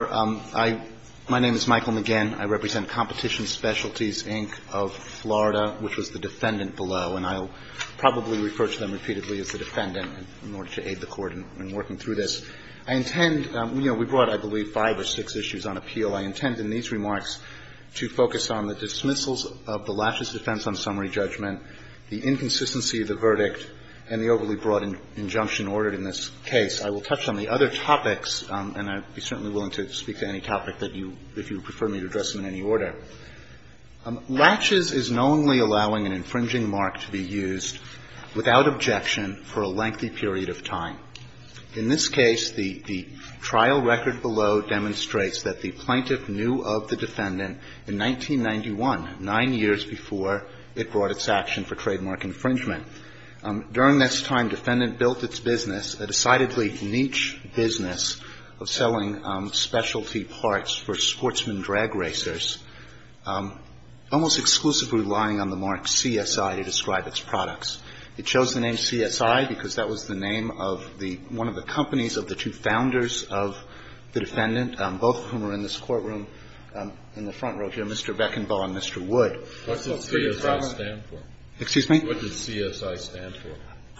My name is Michael McGinn. I represent Competition Specialties, Inc. of Florida, which was the defendant below. And I'll probably refer to them repeatedly as the defendant in order to aid the Court in working through this. I intend, you know, we brought, I believe, five or six issues on appeal. I intend in these remarks to focus on the dismissals of the lashes defense on summary judgment, the inconsistency of the verdict, and the overly broad injunction ordered in this case. I will touch on the other topics, and I'd be certainly willing to speak to any topic that you, if you prefer me to address them in any order. Lashes is knowingly allowing an infringing mark to be used without objection for a lengthy period of time. In this case, the trial record below demonstrates that the plaintiff knew of the defendant in 1991, nine years before it brought its action for trademark infringement. During this time, defendant built its business, a decidedly niche business, of selling specialty parts for sportsman drag racers, almost exclusively relying on the mark CSI to describe its products. It chose the name CSI because that was the name of the one of the companies of the two founders of the defendant, both of whom are in this courtroom in the front row here, Mr. Beckenbaugh and Mr. Wood. What did CSI stand for? Excuse me? What did CSI stand for?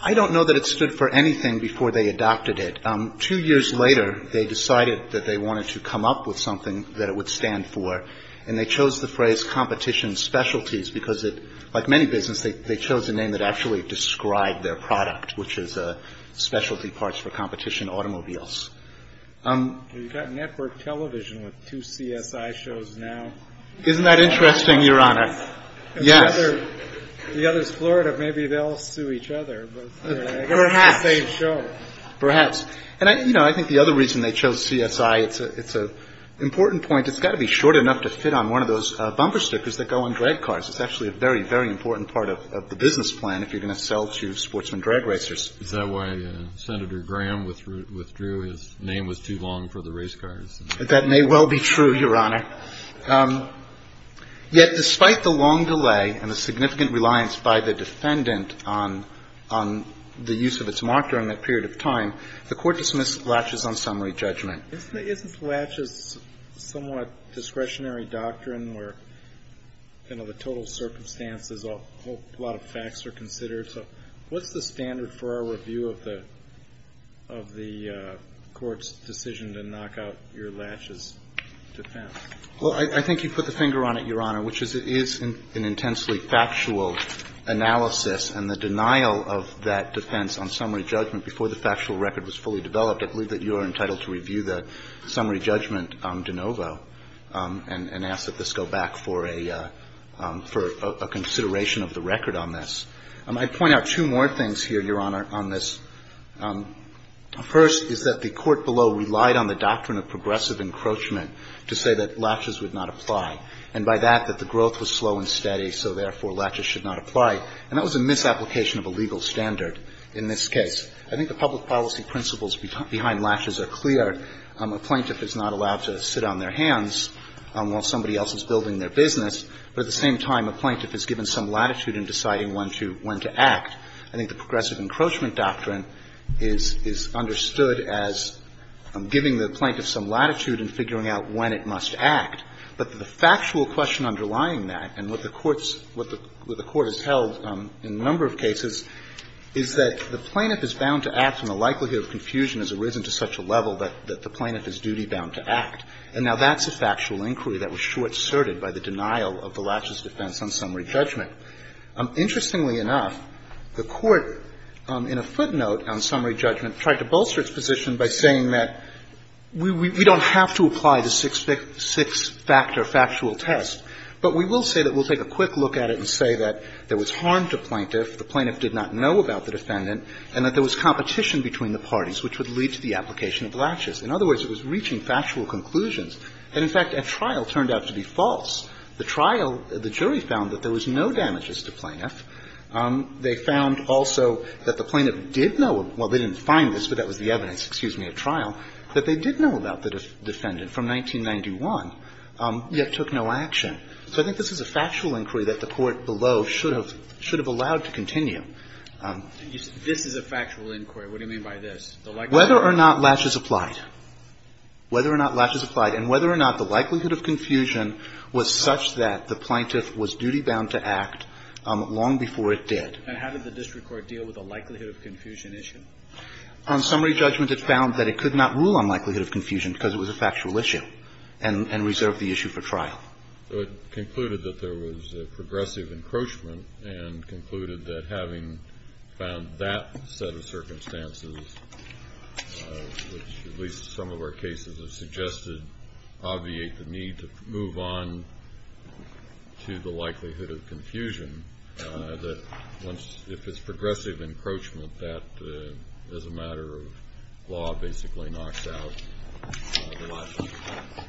I don't know that it stood for anything before they adopted it. Two years later, they decided that they wanted to come up with something that it would stand for, and they chose the phrase competition specialties because it, like many businesses, they chose a name that actually described their product, which is specialty parts for competition automobiles. You've got network television with two CSI shows now. Isn't that interesting, Your Honor? Yes. The other is Florida. Maybe they'll sue each other. Perhaps. It's the same show. Perhaps. And, you know, I think the other reason they chose CSI, it's an important point. It's got to be short enough to fit on one of those bumper stickers that go on drag cars. It's actually a very, very important part of the business plan if you're going to sell to sportsman drag racers. Is that why Senator Graham withdrew his name was too long for the race cars? That may well be true, Your Honor. Yet despite the long delay and the significant reliance by the defendant on the use of its mark during that period of time, the Court dismissed laches on summary judgment. Isn't laches somewhat discretionary doctrine where, you know, the total circumstances, a whole lot of facts are considered? So what's the standard for our review of the Court's decision to knock out your laches defense? Well, I think you put the finger on it, Your Honor, which is it is an intensely factual analysis and the denial of that defense on summary judgment before the factual record was fully developed. I believe that you are entitled to review the summary judgment de novo and ask that this go back for a consideration of the record on this. I'd point out two more things here, Your Honor, on this. First is that the Court below relied on the doctrine of progressive encroachment to say that laches would not apply, and by that, that the growth was slow and steady, so therefore laches should not apply. And that was a misapplication of a legal standard in this case. I think the public policy principles behind laches are clear. A plaintiff is not allowed to sit on their hands while somebody else is building their business. But at the same time, a plaintiff is given some latitude in deciding when to act. I think the progressive encroachment doctrine is understood as giving the plaintiff some latitude in figuring out when it must act. But the factual question underlying that and what the Court's – what the Court has held in a number of cases is that the plaintiff is bound to act and the likelihood of confusion has arisen to such a level that the plaintiff is duty-bound to act. And now that's a factual inquiry that was short-serted by the denial of the laches defense on summary judgment. Interestingly enough, the Court in a footnote on summary judgment tried to bolster its position by saying that we don't have to apply the six-factor factual test, but we will say that we'll take a quick look at it and say that there was harm to plaintiff, the plaintiff did not know about the defendant, and that there was competition between the parties, which would lead to the application of laches. In other words, it was reaching factual conclusions. And in fact, at trial, it turned out to be false. The trial, the jury found that there was no damages to plaintiff. They found also that the plaintiff did know – well, they didn't find this, but that was the evidence, excuse me, at trial – that they did know about the defendant from 1991, yet took no action. So I think this is a factual inquiry that the Court below should have allowed to continue. This is a factual inquiry. What do you mean by this? Whether or not laches applied. Whether or not laches applied. And whether or not the likelihood of confusion was such that the plaintiff was duty-bound to act long before it did. And how did the district court deal with the likelihood of confusion issue? On summary judgment, it found that it could not rule on likelihood of confusion because it was a factual issue and reserved the issue for trial. So it concluded that there was a progressive encroachment and concluded that having found that set of circumstances, which at least some of our cases have suggested obviate the need to move on to the likelihood of confusion, that if it's progressive encroachment, that as a matter of law basically knocks out the likelihood.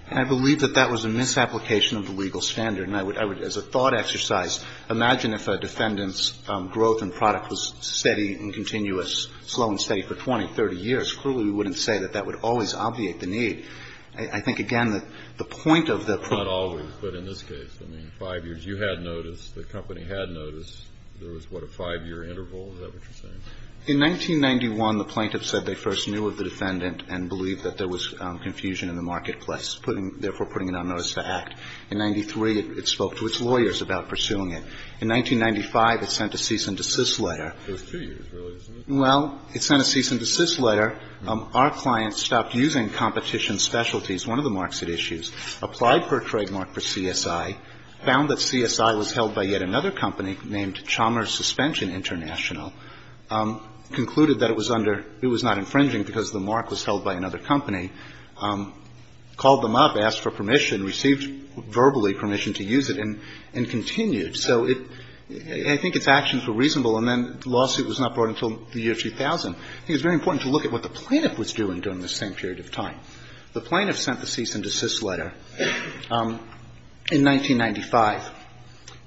And I believe that that was a misapplication of the legal standard. And I would, as a thought exercise, imagine if a defendant's growth in product was steady and continuous, slow and steady for 20, 30 years. Clearly, we wouldn't say that that would always obviate the need. I think, again, that the point of the problem. Kennedy. Not always, but in this case. I mean, 5 years you had notice, the company had notice. There was, what, a 5-year interval? Is that what you're saying? In 1991, the plaintiff said they first knew of the defendant and believed that there was confusion in the marketplace, therefore putting it on notice to act. In 1993, it spoke to its lawyers about pursuing it. In 1995, it sent a cease and desist letter. It was 2 years, really, isn't it? Well, it sent a cease and desist letter. Our client stopped using competition specialties, one of the marks it issues, applied for a trademark for CSI, found that CSI was held by yet another company named Chalmers Suspension International, concluded that it was under – it was not infringing because the mark was held by another company, called them up, asked for verbally permission to use it, and continued. So it – I think its actions were reasonable, and then the lawsuit was not brought until the year 2000. I think it's very important to look at what the plaintiff was doing during this same period of time. The plaintiff sent the cease and desist letter in 1995.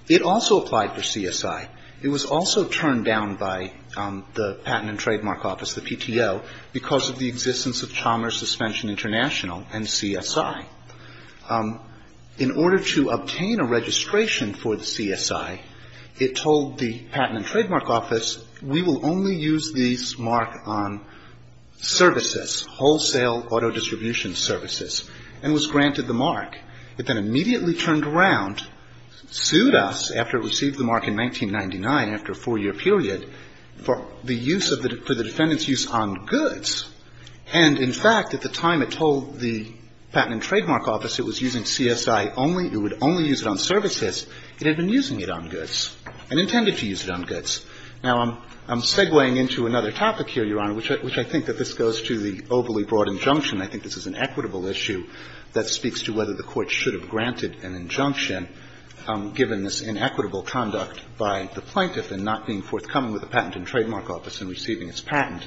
It also applied for CSI. It was also turned down by the Patent and Trademark Office, the PTO, because of the existence of Chalmers Suspension International and CSI. In order to obtain a registration for the CSI, it told the Patent and Trademark Office, we will only use these mark on services, wholesale auto distribution services, and was granted the mark. It then immediately turned around, sued us, after it received the mark in 1999, after a four-year period, for the use of the – for the defendant's use on goods. And, in fact, at the time it told the Patent and Trademark Office it was using CSI only, it would only use it on services, it had been using it on goods and intended to use it on goods. Now, I'm segueing into another topic here, Your Honor, which I think that this goes to the overly broad injunction. I think this is an equitable issue that speaks to whether the Court should have granted an injunction, given this inequitable conduct by the plaintiff in not being forthcoming with the Patent and Trademark Office in receiving its patent.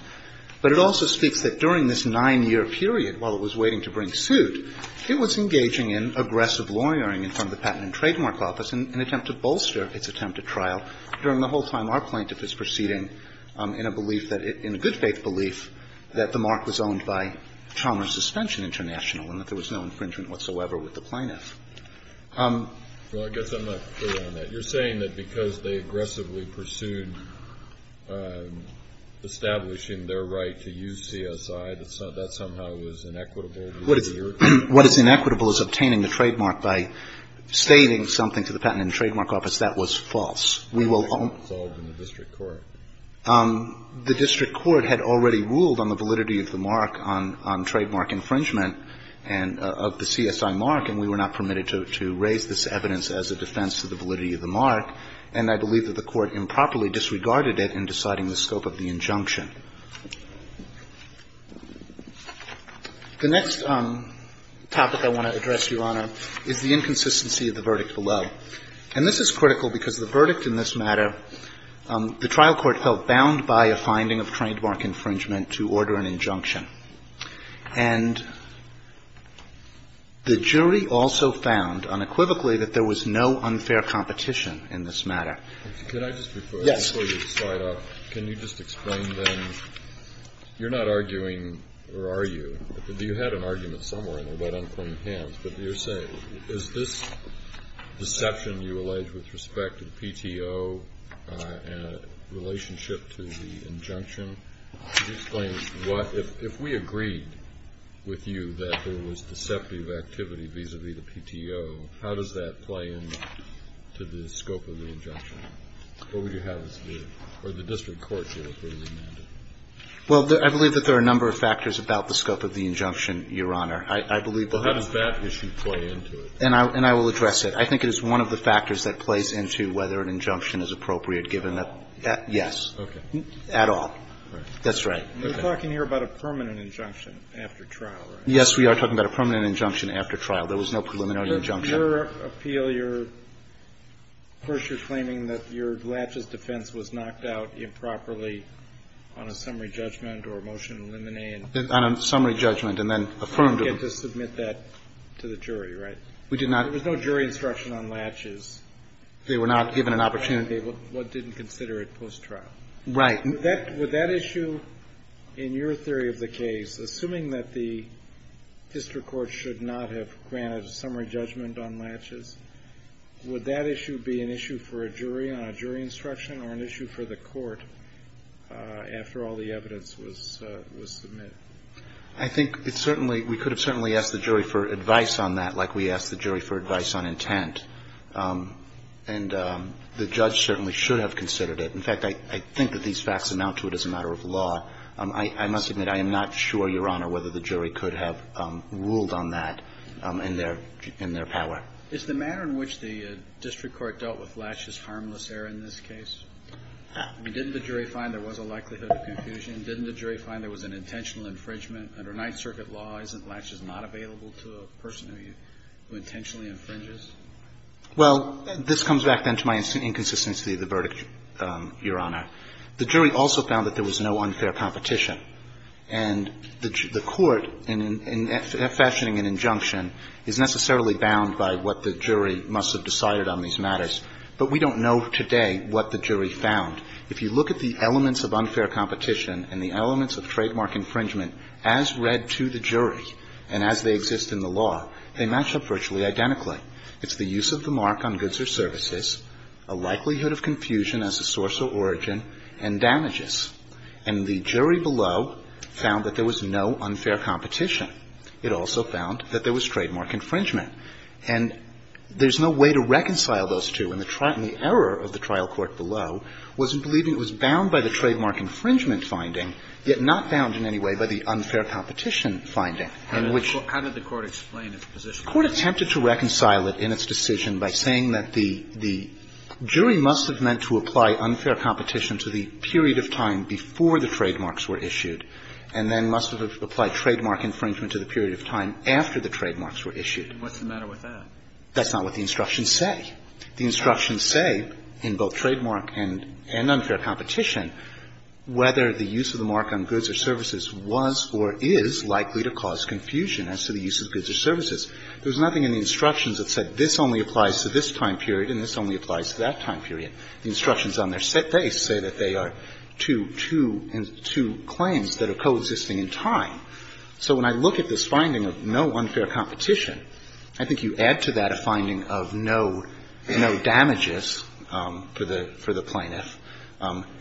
But it also speaks that during this nine-year period, while it was waiting to bring suit, it was engaging in aggressive lawyering in front of the Patent and Trademark Office in an attempt to bolster its attempt at trial, during the whole time our plaintiff was proceeding in a belief that – in a good-faith belief that the mark was owned by Chalmers Suspension International and that there was no infringement whatsoever with the plaintiff. Well, I guess I'm not clear on that. You're saying that because they aggressively pursued establishing their right to use CSI, that that somehow was inequitable? What is inequitable is obtaining the trademark by stating something to the Patent and Trademark Office that was false. We will own – It's all in the district court. The district court had already ruled on the validity of the mark on trademark infringement and – of the CSI mark, and we were not permitted to raise this evidence as a defense to the validity of the mark. And I believe that the Court improperly disregarded it in deciding the scope of the injunction. The next topic I want to address, Your Honor, is the inconsistency of the verdict below. And this is critical because the verdict in this matter, the trial court held bound by a finding of trademark infringement to order an injunction. And the jury also found unequivocally that there was no unfair competition in this matter. Can I just refer – Yes. Before you slide off, can you just explain then – you're not arguing, or are you? You had an argument somewhere about unclaimed hands, but you're saying is this deception you allege with respect to the PTO in a relationship to the injunction? Could you explain what – if we agreed with you that there was deceptive activity vis-a-vis the PTO, how does that play into the scope of the injunction? What would you have us do? Or the district court should approve the mandate. Well, I believe that there are a number of factors about the scope of the injunction, Your Honor. I believe that – Well, how does that issue play into it? And I will address it. I think it is one of the factors that plays into whether an injunction is appropriate given a – yes. Okay. At all. Right. That's right. We're talking here about a permanent injunction after trial, right? Yes, we are talking about a permanent injunction after trial. There was no preliminary injunction. Under your appeal, you're – first, you're claiming that your latches defense was knocked out improperly on a summary judgment or a motion to eliminate. On a summary judgment and then affirmed. You didn't get to submit that to the jury, right? We did not. There was no jury instruction on latches. They were not given an opportunity. What didn't consider it post-trial. Right. Would that issue, in your theory of the case, assuming that the district court should not have granted a summary judgment on latches, would that issue be an issue for a jury on a jury instruction or an issue for the court after all the evidence was submitted? I think it certainly – we could have certainly asked the jury for advice on that like we asked the jury for advice on intent. And the judge certainly should have considered it. In fact, I think that these facts amount to it as a matter of law. I must admit, I am not sure, Your Honor, whether the jury could have ruled on that in their – in their power. Is the manner in which the district court dealt with latches harmless error in this case? I mean, didn't the jury find there was a likelihood of confusion? Didn't the jury find there was an intentional infringement? Under Ninth Circuit law, isn't latches not available to a person who intentionally infringes? Well, this comes back then to my inconsistency of the verdict, Your Honor. The jury also found that there was no unfair competition. And the court, in fashioning an injunction, is necessarily bound by what the jury must have decided on these matters. But we don't know today what the jury found. If you look at the elements of unfair competition and the elements of trademark infringement as read to the jury and as they exist in the law, they match up virtually identically. It's the use of the mark on goods or services, a likelihood of confusion as a source of origin, and damages. And the jury below found that there was no unfair competition. It also found that there was trademark infringement. And there's no way to reconcile those two. And the trial – and the error of the trial court below was in believing it was bound by the trademark infringement finding, yet not bound in any way by the unfair competition finding. And which – How did the court explain its position? The court attempted to reconcile it in its decision by saying that the jury must have meant to apply unfair competition to the period of time before the trademarks were issued, and then must have applied trademark infringement to the period of time after the trademarks were issued. What's the matter with that? That's not what the instructions say. The instructions say in both trademark and unfair competition whether the use of the mark on goods or services was or is likely to cause confusion as to the use of goods or services. There's nothing in the instructions that said this only applies to this time period and this only applies to that time period. The instructions on their face say that they are two – two claims that are coexisting in time. So when I look at this finding of no unfair competition, I think you add to that a no damages for the – for the plaintiff,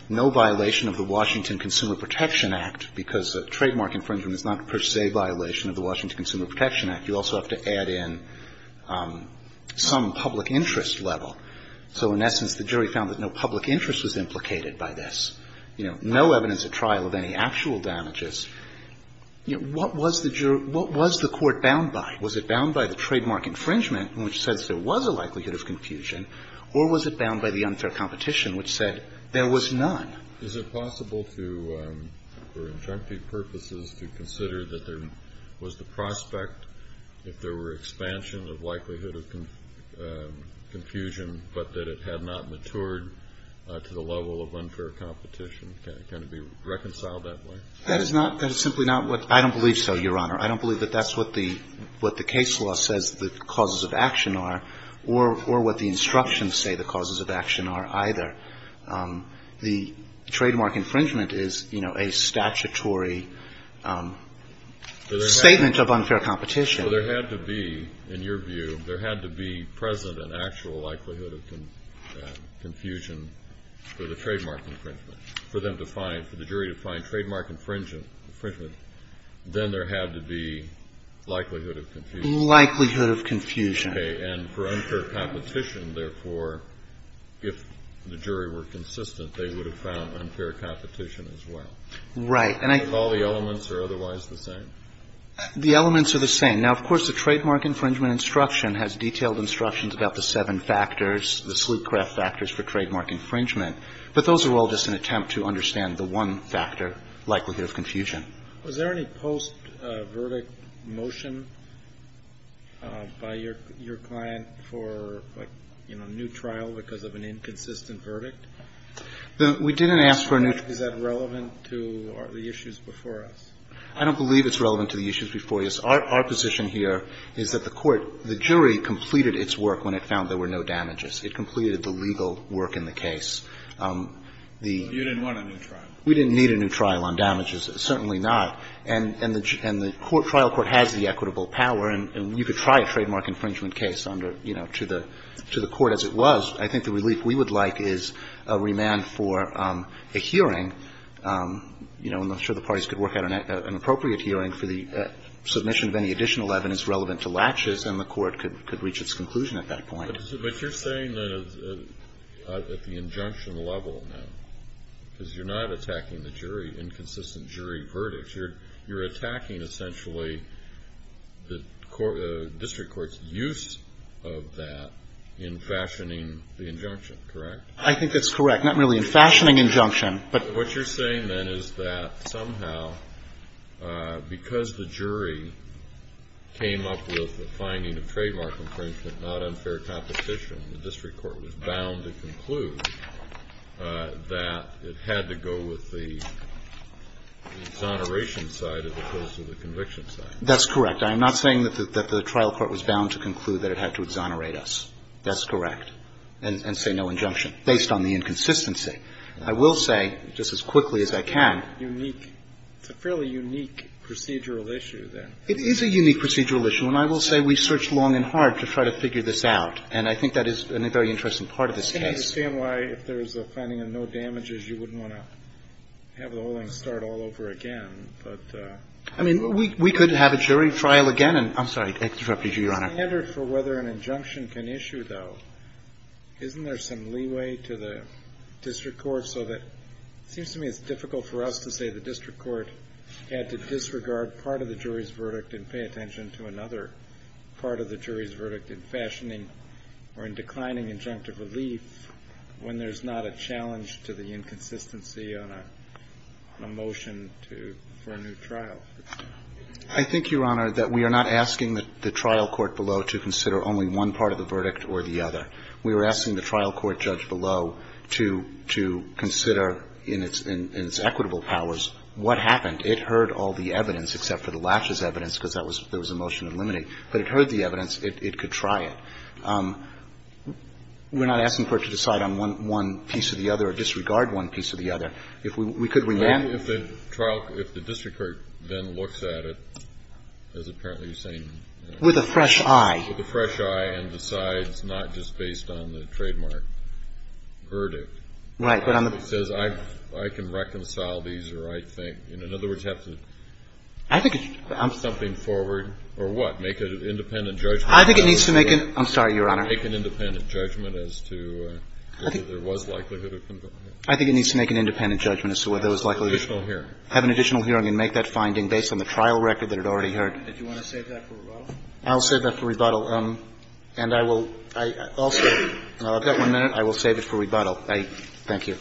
no violation of the Washington Consumer Protection Act, because a trademark infringement is not per se a violation of the Washington Consumer Protection Act. You also have to add in some public interest level. So in essence, the jury found that no public interest was implicated by this. You know, no evidence at trial of any actual damages. You know, what was the jury – what was the court bound by? Was it bound by the trademark infringement, which says there was a likelihood of confusion, or was it bound by the unfair competition, which said there was none? Is it possible to, for injunctive purposes, to consider that there was the prospect if there were expansion of likelihood of confusion, but that it had not matured to the level of unfair competition? Can it be reconciled that way? That is not – that is simply not what – I don't believe so, Your Honor. I don't believe that that's what the – what the case law says the causes of action are, or what the instructions say the causes of action are either. The trademark infringement is, you know, a statutory statement of unfair competition. So there had to be, in your view, there had to be present an actual likelihood of confusion for the trademark infringement, for them to find – for the jury to find the likelihood of confusion. Likelihood of confusion. Okay. And for unfair competition, therefore, if the jury were consistent, they would have found unfair competition as well. Right. And I – If all the elements are otherwise the same? The elements are the same. Now, of course, the trademark infringement instruction has detailed instructions about the seven factors, the slewcraft factors for trademark infringement, but those are all just an attempt to understand the one factor, likelihood of confusion. Was there any post-verdict motion by your client for, like, you know, a new trial because of an inconsistent verdict? We didn't ask for a new – Is that relevant to the issues before us? I don't believe it's relevant to the issues before us. Our position here is that the court – the jury completed its work when it found there were no damages. It completed the legal work in the case. We didn't need a new trial on damages. Certainly not. And the trial court has the equitable power. And you could try a trademark infringement case under, you know, to the court as it was. I think the relief we would like is a remand for a hearing, you know, and I'm sure the parties could work out an appropriate hearing for the submission of any additional evidence relevant to latches, and the court could reach its conclusion at that point. But you're saying that at the injunction level now, because you're not attacking the jury, inconsistent jury verdicts, you're attacking essentially the district court's use of that in fashioning the injunction, correct? I think that's correct. Not really in fashioning injunction, but – What you're saying, then, is that somehow, because the jury came up with the finding of trademark infringement, not unfair competition, the district court was bound to the exoneration side as opposed to the conviction side. That's correct. I'm not saying that the trial court was bound to conclude that it had to exonerate us. That's correct. And say no injunction, based on the inconsistency. I will say, just as quickly as I can – Unique. It's a fairly unique procedural issue, then. It is a unique procedural issue. And I will say we searched long and hard to try to figure this out. And I think that is a very interesting part of this case. I understand why, if there's a finding of no damages, you wouldn't want to have the whole thing start all over again. But – I mean, we could have a jury trial again and – I'm sorry, I interrupted you, Your Honor. The standard for whether an injunction can issue, though, isn't there some leeway to the district court so that – it seems to me it's difficult for us to say the district court had to disregard part of the jury's verdict and pay attention to another part of the jury's verdict in fashioning or in declining injunctive relief when there's not a challenge to the inconsistency on a motion to – for a new trial. I think, Your Honor, that we are not asking the trial court below to consider only one part of the verdict or the other. We are asking the trial court judge below to consider in its equitable powers what happened. It heard all the evidence, except for the laches evidence, because that was – there was a motion in limine. But it heard the evidence. It could try it. We're not asking the court to decide on one piece or the other or disregard one piece or the other. If we – could we then – If the trial – if the district court then looks at it, as apparently you're saying – With a fresh eye. With a fresh eye and decides not just based on the trademark verdict. Right. But on the – It says I can reconcile these or I think – in other words, have to – I think it's – Something forward or what? Make an independent judgment? I think it needs to make an – I'm sorry, Your Honor. Make an independent judgment as to whether there was likelihood of conviction. I think it needs to make an independent judgment as to whether there was likelihood of conviction. Additional hearing. Have an additional hearing and make that finding based on the trial record that it already heard. Did you want to save that for rebuttal? I'll save that for rebuttal. And I will – I'll save it. I've got one minute. I will save it for rebuttal. Thank you.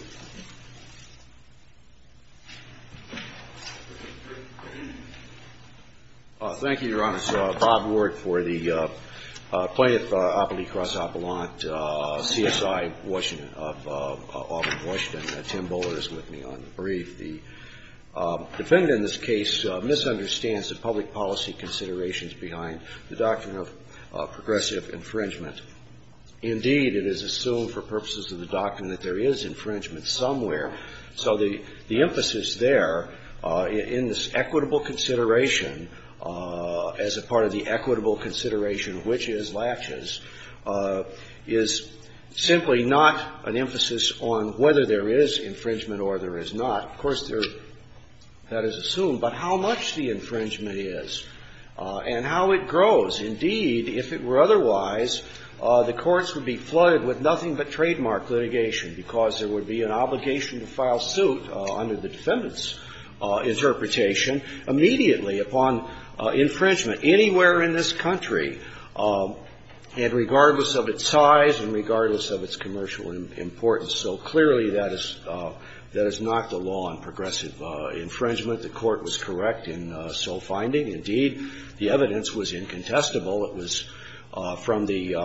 Thank you, Your Honors. Bob Ward for the Plaintiff Appellee Cross Appellant, CSI, Washington – of Auburn, Washington. Tim Buller is with me on the brief. The defendant in this case misunderstands the public policy considerations behind the doctrine of progressive infringement. Indeed, it is assumed for purposes of the doctrine that there is infringement somewhere. So the emphasis there in this equitable consideration, as a part of the equitable consideration of which is laches, is simply not an emphasis on whether there is infringement or there is not. Of course, there – that is assumed. But how much the infringement is and how it grows. Indeed, if it were otherwise, the courts would be flooded with nothing but trademark litigation, because there would be an obligation to file suit under the defendant's interpretation immediately upon infringement anywhere in this country, and regardless of its size and regardless of its commercial importance. So clearly, that is – that is not the law on progressive infringement. The court was correct in so finding. Indeed, the evidence was incontestable. It was from the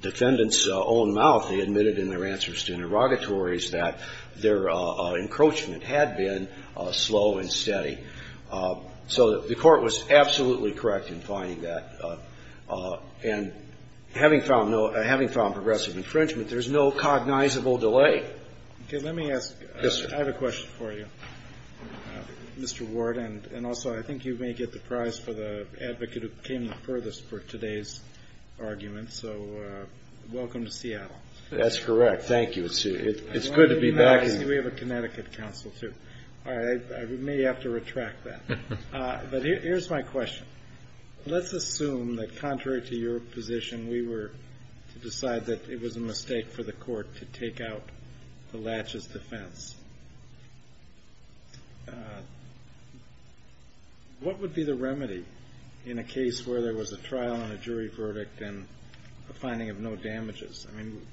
defendant's own mouth. They admitted in their answers to interrogatories that their encroachment had been slow and steady. So the court was absolutely correct in finding that. And having found no – having found progressive infringement, there is no cognizable delay. Okay. Let me ask. Yes, sir. I have a question for you, Mr. Ward. And also, I think you may get the prize for the advocate who came the furthest for today's argument. So welcome to Seattle. That's correct. Thank you. It's good to be back. We have a Connecticut counsel, too. All right. I may have to retract that. But here's my question. Let's assume that contrary to your position, we were to decide that it was a mistake for the court to take out the latches defense. What would be the remedy in a case where there was a trial and a jury verdict and a finding of no damages? I mean,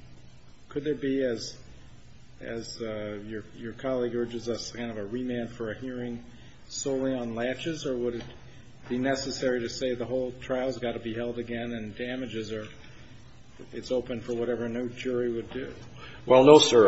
could there be, as your colleague urges us, kind of a remand for a hearing solely on latches? Or would it be necessary to say the whole trial has got to be held again and damages are – it's open for whatever no jury would do? Well, no, sir.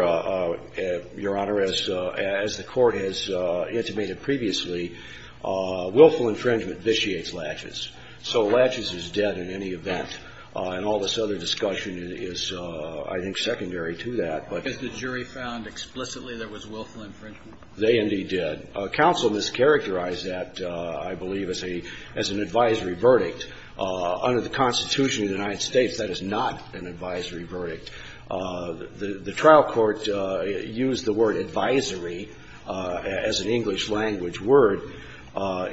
Your Honor, as the court has intimated previously, willful infringement vitiates latches. So latches is dead in any event. And all this other discussion is, I think, secondary to that. Has the jury found explicitly there was willful infringement? They indeed did. Counsel mischaracterized that, I believe, as an advisory verdict. Under the Constitution of the United States, that is not an advisory verdict. The trial court used the word advisory as an English language word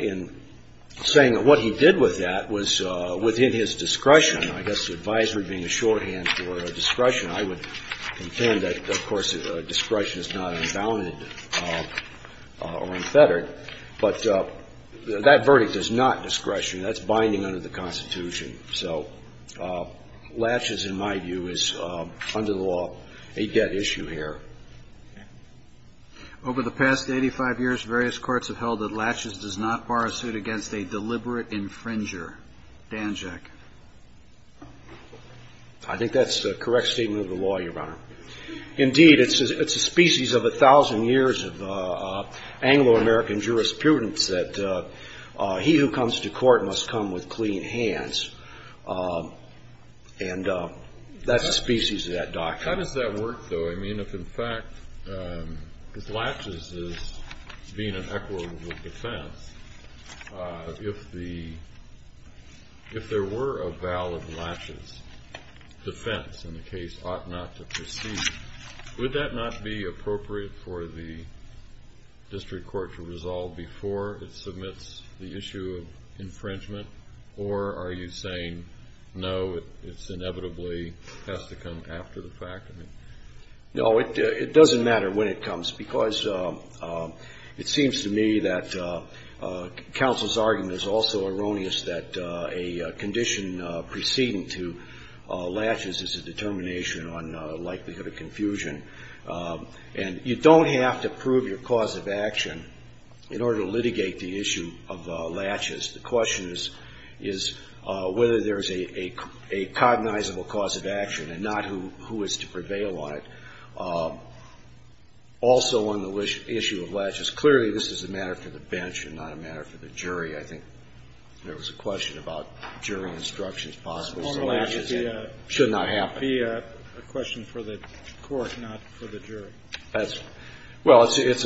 in saying that what he did with that was within his discretion. I guess advisory being a shorthand for discretion, I would contend that, of course, discretion is not unbounded or unfettered. But that verdict is not discretion. That's binding under the Constitution. So latches, in my view, is under the law a dead issue here. Over the past 85 years, various courts have held that latches does not bar a suit against a deliberate infringer. Danjak. I think that's a correct statement of the law, Your Honor. Indeed, it's a species of a thousand years of Anglo-American jurisprudence that he who comes to court must come with clean hands, and that's a species of that doctrine. How does that work, though? I mean, if, in fact, if latches is being an equitable defense, if there were a valid latches defense in the case ought not to proceed, would that not be appropriate for the district court to resolve before it submits the issue of infringement? Or are you saying, no, it's inevitably has to come after the fact? No, it doesn't matter when it comes, because it seems to me that counsel's argument is also erroneous that a condition preceding to latches is a determination on likelihood of confusion. And you don't have to prove your cause of action in order to litigate the issue of latches. The question is whether there's a cognizable cause of action and not who is to prevail on it. Also on the issue of latches, clearly this is a matter for the bench and not a matter for the jury. I think there was a question about jury instructions possible. So latches should not happen. It would be a question for the court, not for the jury. That's right. Well, it's,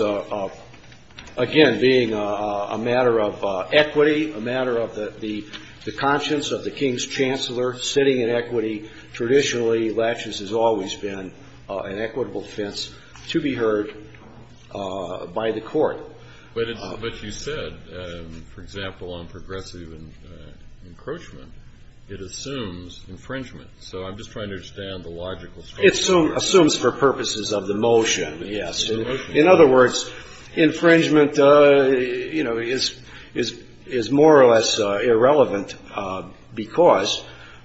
again, being a matter of equity, a matter of the conscience of the King's chancellor, sitting in equity. Traditionally, latches has always been an equitable defense to be heard by the court. But you said, for example, on progressive encroachment, it assumes infringement. So I'm just trying to understand the logical structure. It assumes for purposes of the motion, yes. In other words, infringement, you know, is more or less irrelevant because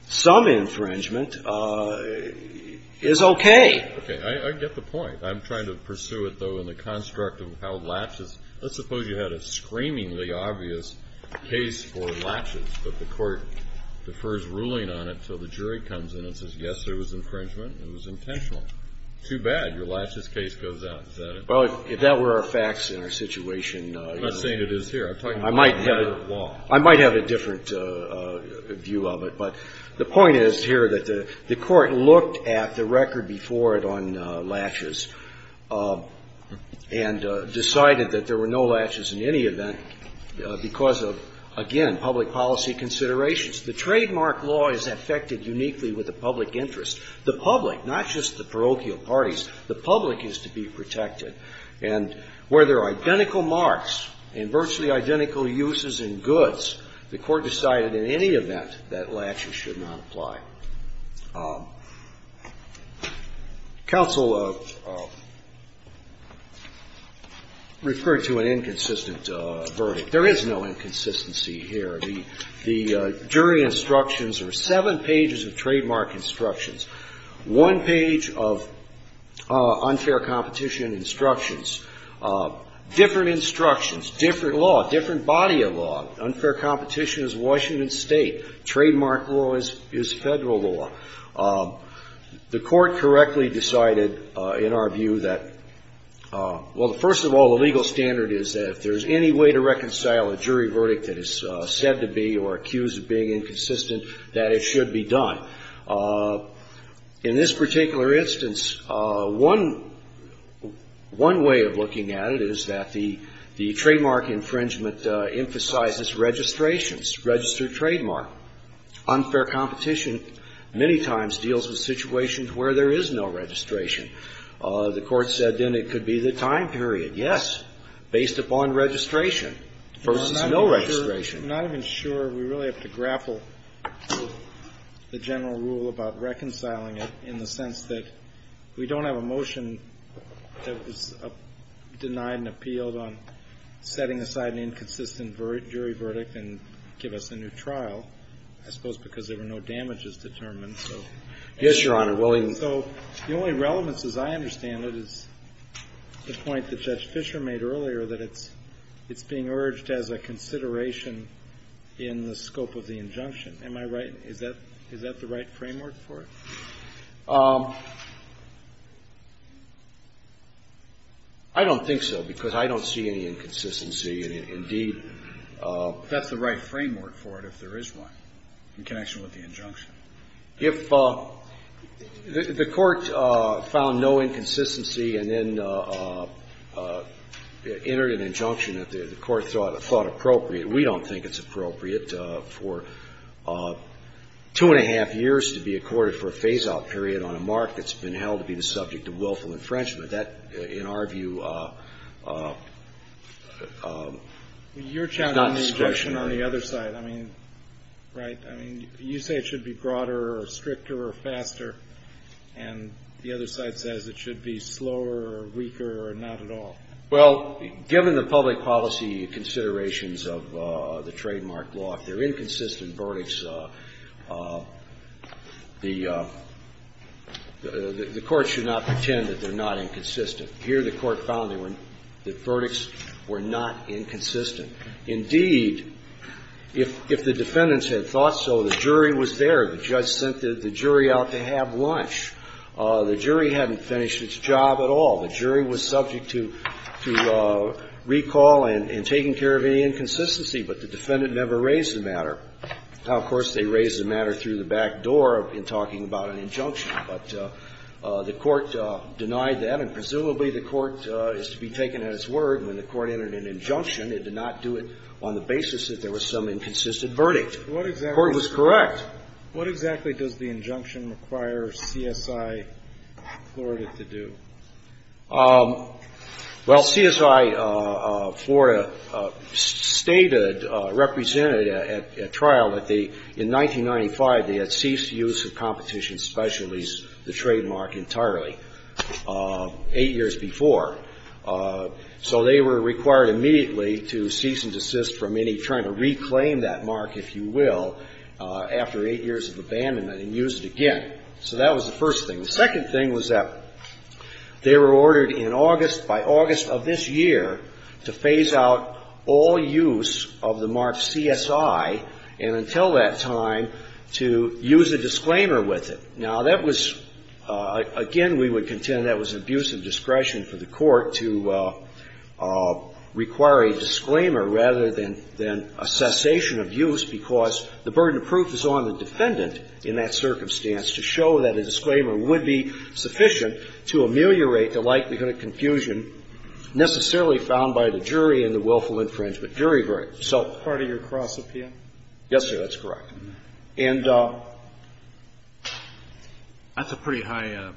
some infringement is okay. Okay. I get the point. I'm trying to pursue it, though, in the construct of how latches – let's suppose you had a screamingly obvious case for latches, but the court defers ruling on it until the jury comes in and says, yes, there was infringement, it was intentional. Too bad. Your latches case goes out. Is that it? Well, if that were our facts in our situation, you know – I'm not saying it is here. I'm talking about a matter of law. I might have a different view of it. But the point is here that the court looked at the record before it on latches and decided that there were no latches in any event because of, again, public policy considerations. The trademark law is affected uniquely with the public interest. The public, not just the parochial parties, the public is to be protected. And where there are identical marks and virtually identical uses in goods, the court decided in any event that latches should not apply. Counsel referred to an inconsistent verdict. There is no inconsistency here. The jury instructions are seven pages of trademark instructions, one page of unfair competition instructions, different instructions, different law, different body of law. Unfair competition is Washington State. Trademark law is Federal law. The court correctly decided in our view that, well, first of all, the legal standard is that if there's any way to reconcile a jury verdict that is said to be or accused of being inconsistent, that it should be done. In this particular instance, one way of looking at it is that the trademark infringement emphasizes registrations, registered trademark. Unfair competition many times deals with situations where there is no registration. The court said then it could be the time period. Yes, based upon registration versus no registration. I'm not even sure. We really have to grapple with the general rule about reconciling it in the sense that we don't have a motion that was denied and appealed on setting aside an inconsistent jury verdict and give us a new trial, I suppose because there were no damages determined, so. Yes, Your Honor. So the only relevance, as I understand it, is the point that Judge Fisher made earlier that it's being urged as a consideration in the scope of the injunction. Am I right? Is that the right framework for it? I don't think so because I don't see any inconsistency. Indeed. That's the right framework for it if there is one in connection with the injunction. If the Court found no inconsistency and then entered an injunction that the Court thought appropriate, we don't think it's appropriate for two and a half years to be accorded for a phase-out period on a mark that's been held to be the subject of willful infringement. That, in our view, is not discretionary. You're challenging the injunction on the other side. I mean, right? I mean, you say it should be broader or stricter or faster, and the other side says it should be slower or weaker or not at all. Well, given the public policy considerations of the trademark law, if there are inconsistent verdicts, the Court should not pretend that they're not inconsistent. Here the Court found that verdicts were not inconsistent. Indeed, if the defendants had thought so, the jury was there. The judge sent the jury out to have lunch. The jury hadn't finished its job at all. The jury was subject to recall and taking care of any inconsistency, but the defendant never raised the matter. Now, of course, they raised the matter through the back door in talking about an injunction, but the Court denied that, and presumably the Court is to be taken at its word. When the Court entered an injunction, it did not do it on the basis that there was some inconsistent verdict. The Court was correct. What exactly does the injunction require CSI Florida to do? Well, CSI Florida stated, represented at trial that they, in 1995, they had ceased use of competition specialties, the trademark, entirely, eight years before. So they were required immediately to cease and desist from any trying to reclaim that mark, if you will, after eight years of abandonment and use it again. So that was the first thing. The second thing was that they were ordered in August, by August of this year, to phase out all use of the mark CSI, and until that time, to use a disclaimer with it. Now, that was, again, we would contend that was an abuse of discretion for the Court to require a disclaimer rather than a cessation of use, because the burden of proof is on the defendant in that circumstance to show that a disclaimer would be sufficient to ameliorate the likelihood of confusion necessarily found by the jury in the willful infringement. Part of your cross-appeal? Yes, sir. That's correct. And that's a pretty high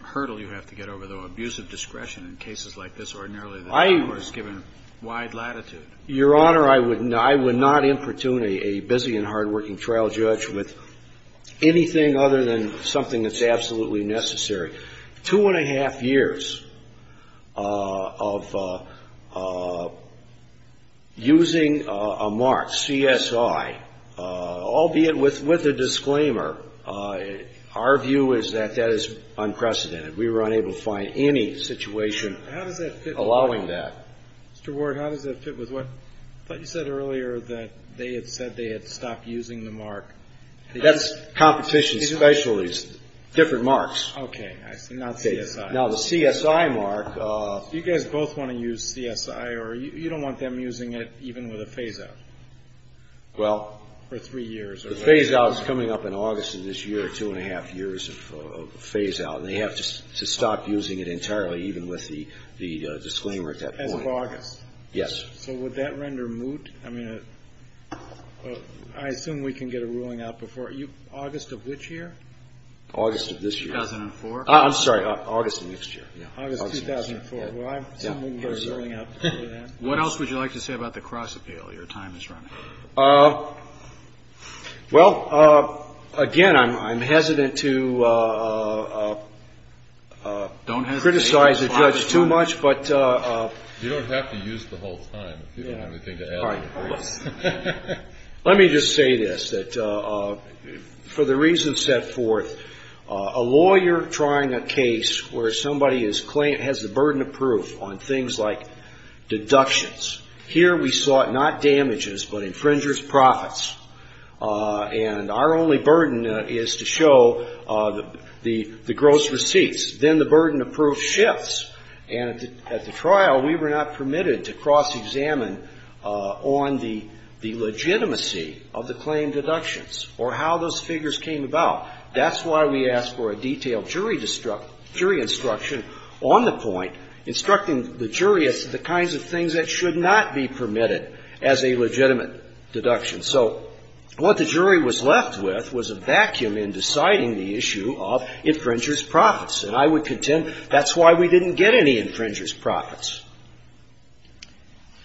hurdle you have to get over, though, abuse of discretion in cases like this, ordinarily the Court is given wide latitude. Your Honor, I would not importunate a busy and hardworking trial judge with anything other than something that's absolutely necessary. Two and a half years of using a mark, CSI, albeit with a disclaimer, our view is that that is unprecedented. We were unable to find any situation allowing that. Mr. Ward, how does that fit with what you said earlier that they had said they had stopped using the mark? That's competition specialties, different marks. Okay, I see. Not CSI. Now, the CSI mark... Do you guys both want to use CSI, or you don't want them using it even with a phase-out? Well... For three years. The phase-out is coming up in August of this year, two and a half years of phase-out, and they have to stop using it entirely, even with the disclaimer at that point. As of August? Yes. So would that render moot? I mean, I assume we can get a ruling out before... August of which year? August of this year. 2004? I'm sorry, August of next year. August 2004. Well, I assume we can get a ruling out before that. What else would you like to say about the cross-appeal? Your time is running out. Well, again, I'm hesitant to... Don't hesitate. ...criticize the judge too much, but... You don't have to use the whole time. If you don't have anything to add... All right, hold on. Let me just say this, that for the reasons set forth, a lawyer trying a case where somebody has the burden of proof on things like deductions, here we saw it not damages, but infringers' profits. And our only burden is to show the gross receipts. Then the burden of proof shifts. And at the trial, we were not permitted to cross-examine on the legitimacy of the claim deductions or how those figures came about. That's why we asked for a detailed jury instruction on the point, instructing the jury as to the kinds of things that should not be permitted as a legitimate deduction. So what the jury was left with was a vacuum in deciding the issue of infringers' profits. And I would contend that's why we didn't get any infringers' profits.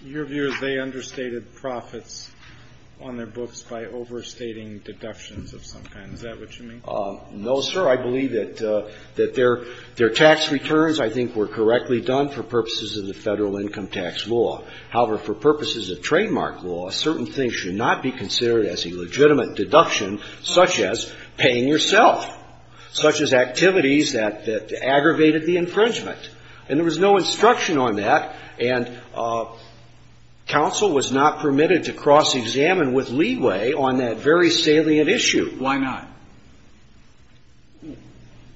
Your view is they understated profits on their books by overstating deductions of some kind. Is that what you mean? No, sir. I believe that their tax returns, I think, were correctly done for purposes of the Federal Income Tax Law. However, for purposes of trademark law, certain things should not be considered as a legitimate deduction, such as paying yourself, such as activities that aggravated the infringement. And there was no instruction on that, and counsel was not permitted to cross-examine with leeway on that very salient issue. Why not?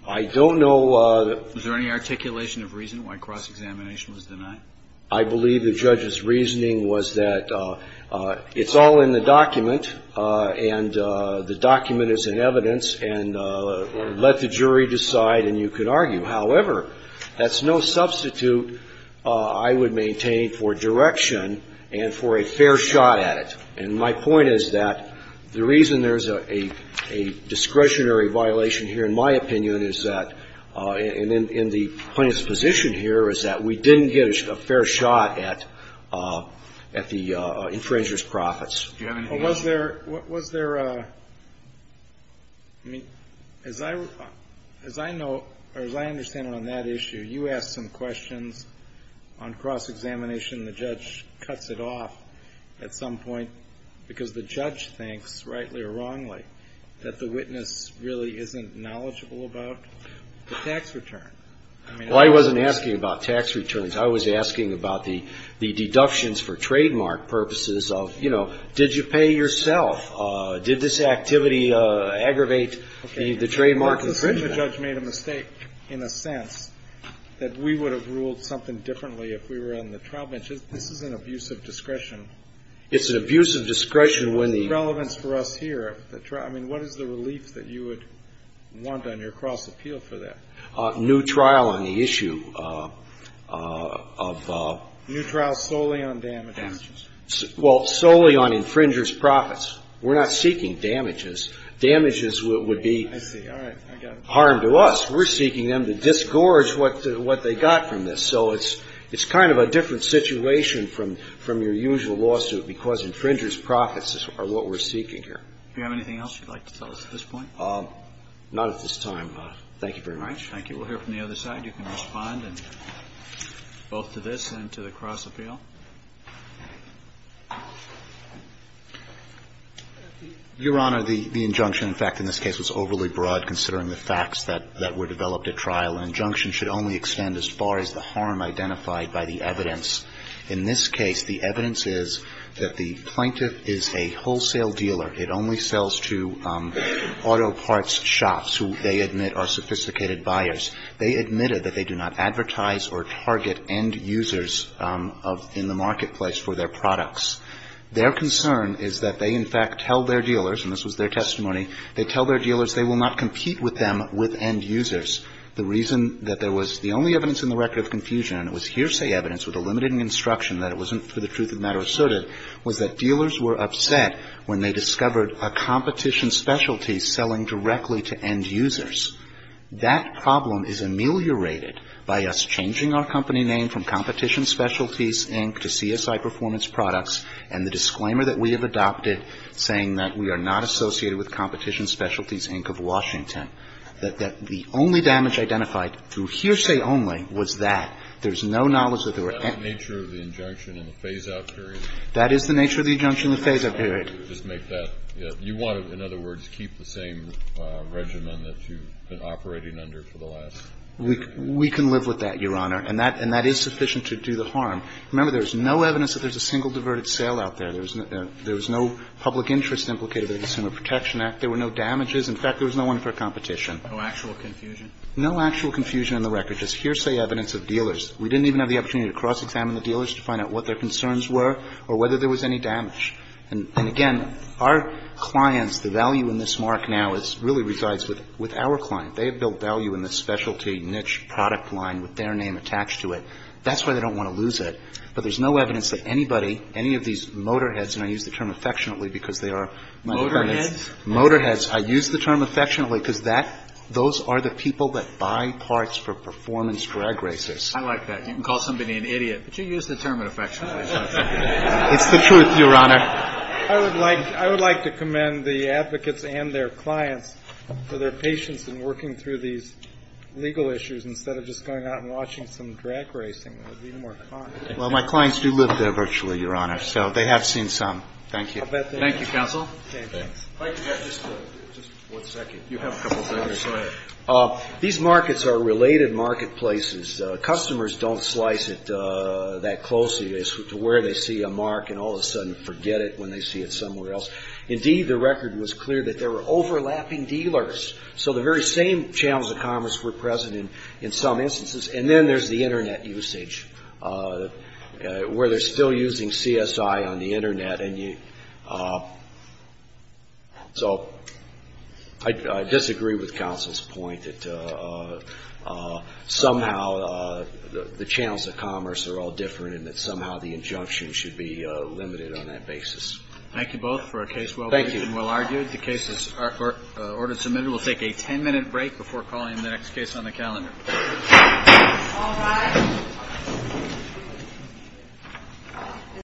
I don't know. Was there any articulation of reason why cross-examination was denied? I believe the judge's reasoning was that it's all in the document, and the document is in evidence, and let the jury decide, and you can argue. However, that's no substitute I would maintain for direction and for a fair shot at it. And my point is that the reason there's a discretionary violation here, in my opinion, is that in the plaintiff's position here is that we didn't get a fair shot at the infringer's profits. Do you have anything else? Well, was there a ñ I mean, as I know, or as I understand it on that issue, you asked some questions on cross-examination. The judge cuts it off at some point because the judge thinks, rightly or wrongly, that the witness really isn't knowledgeable about the tax return. Well, I wasn't asking about tax returns. I was asking about the deductions for trademark purposes of, you know, did you pay yourself? Did this activity aggravate the trademark infringement? The judge made a mistake in a sense that we would have ruled something differently if we were on the trial bench. This is an abuse of discretion. It's an abuse of discretion when the ñ What's the relevance for us here? I mean, what is the relief that you would want on your cross-appeal for that? New trial on the issue of ñ New trial solely on damages. Well, solely on infringer's profits. We're not seeking damages. Damages would be ñ I see. All right. Harm to us. We're seeking them to disgorge what they got from this. So it's kind of a different situation from your usual lawsuit because infringer's profits are what we're seeking here. Do you have anything else you'd like to tell us at this point? Not at this time. Thank you very much. Thank you. We'll hear from the other side. You can respond both to this and to the cross-appeal. Your Honor, the injunction, in fact, in this case, was overly broad considering the facts that were developed at trial. An injunction should only extend as far as the harm identified by the evidence. In this case, the evidence is that the plaintiff is a wholesale dealer. It only sells to auto parts shops who they admit are sophisticated buyers. They admitted that they do not advertise or target end users in the marketplace for their products. Their concern is that they, in fact, tell their dealers, and this was their testimony, they tell their dealers they will not compete with them with end users. The reason that there was the only evidence in the record of confusion, and it was hearsay evidence with a limited instruction that it wasn't for the truth of the matter asserted, was that dealers were upset when they discovered a competition specialty selling directly to end users. That problem is ameliorated by us changing our company name from Competition Specialties, Inc., to CSI Performance Products, and the disclaimer that we have adopted saying that we are not associated with Competition Specialties, Inc. of Washington, that the only damage identified through hearsay only was that. There's no knowledge that there were any other. Kennedy. Is that the nature of the injunction in the phase-out period? Verrilli, That is the nature of the injunction in the phase-out period. Kennedy. Just make that, you want to, in other words, keep the same regimen that you've been operating under for the last period? Verrilli, We can live with that, Your Honor. And that is sufficient to do the harm. Remember, there's no evidence that there's a single diverted sale out there. There was no public interest implicated in the Consumer Protection Act. There were no damages. In fact, there was no one for a competition. Kennedy. No actual confusion? Verrilli, No actual confusion on the record. Just hearsay evidence of dealers. We didn't even have the opportunity to cross-examine the dealers to find out what their concerns were or whether there was any damage. And again, our clients, the value in this mark now really resides with our client. They have built value in the specialty niche product line with their name attached to it. That's why they don't want to lose it. But there's no evidence that anybody, any of these motorheads, and I use the term Kennedy. Motorheads? Verrilli, Motorheads. I use the term affectionately because that, those are the people that buy parts for performance drag racers. Kennedy. I like that. You can call somebody an idiot, but you use the term affectionately. It's the truth, Your Honor. Verrilli, I would like, I would like to commend the advocates and their clients for their patience in working through these legal issues instead of just going out and watching some drag racing. It would be more con. Well, my clients do live there virtually, Your Honor. So they have seen some. Thank you. Thank you, Counsel. I'd like to add just one second. You have a couple seconds. Go ahead. These markets are related marketplaces. Customers don't slice it that closely as to where they see a mark and all of a sudden forget it when they see it somewhere else. Indeed, the record was clear that there were overlapping dealers. So the very same channels of commerce were present in some instances. And then there's the Internet usage where they're still using CSI on the Internet. So I disagree with Counsel's point that somehow the channels of commerce are all different and that somehow the injunction should be limited on that basis. Thank you both for a case well briefed and well argued. The case is order submitted. We'll take a ten-minute break before calling the next case on the calendar. All rise.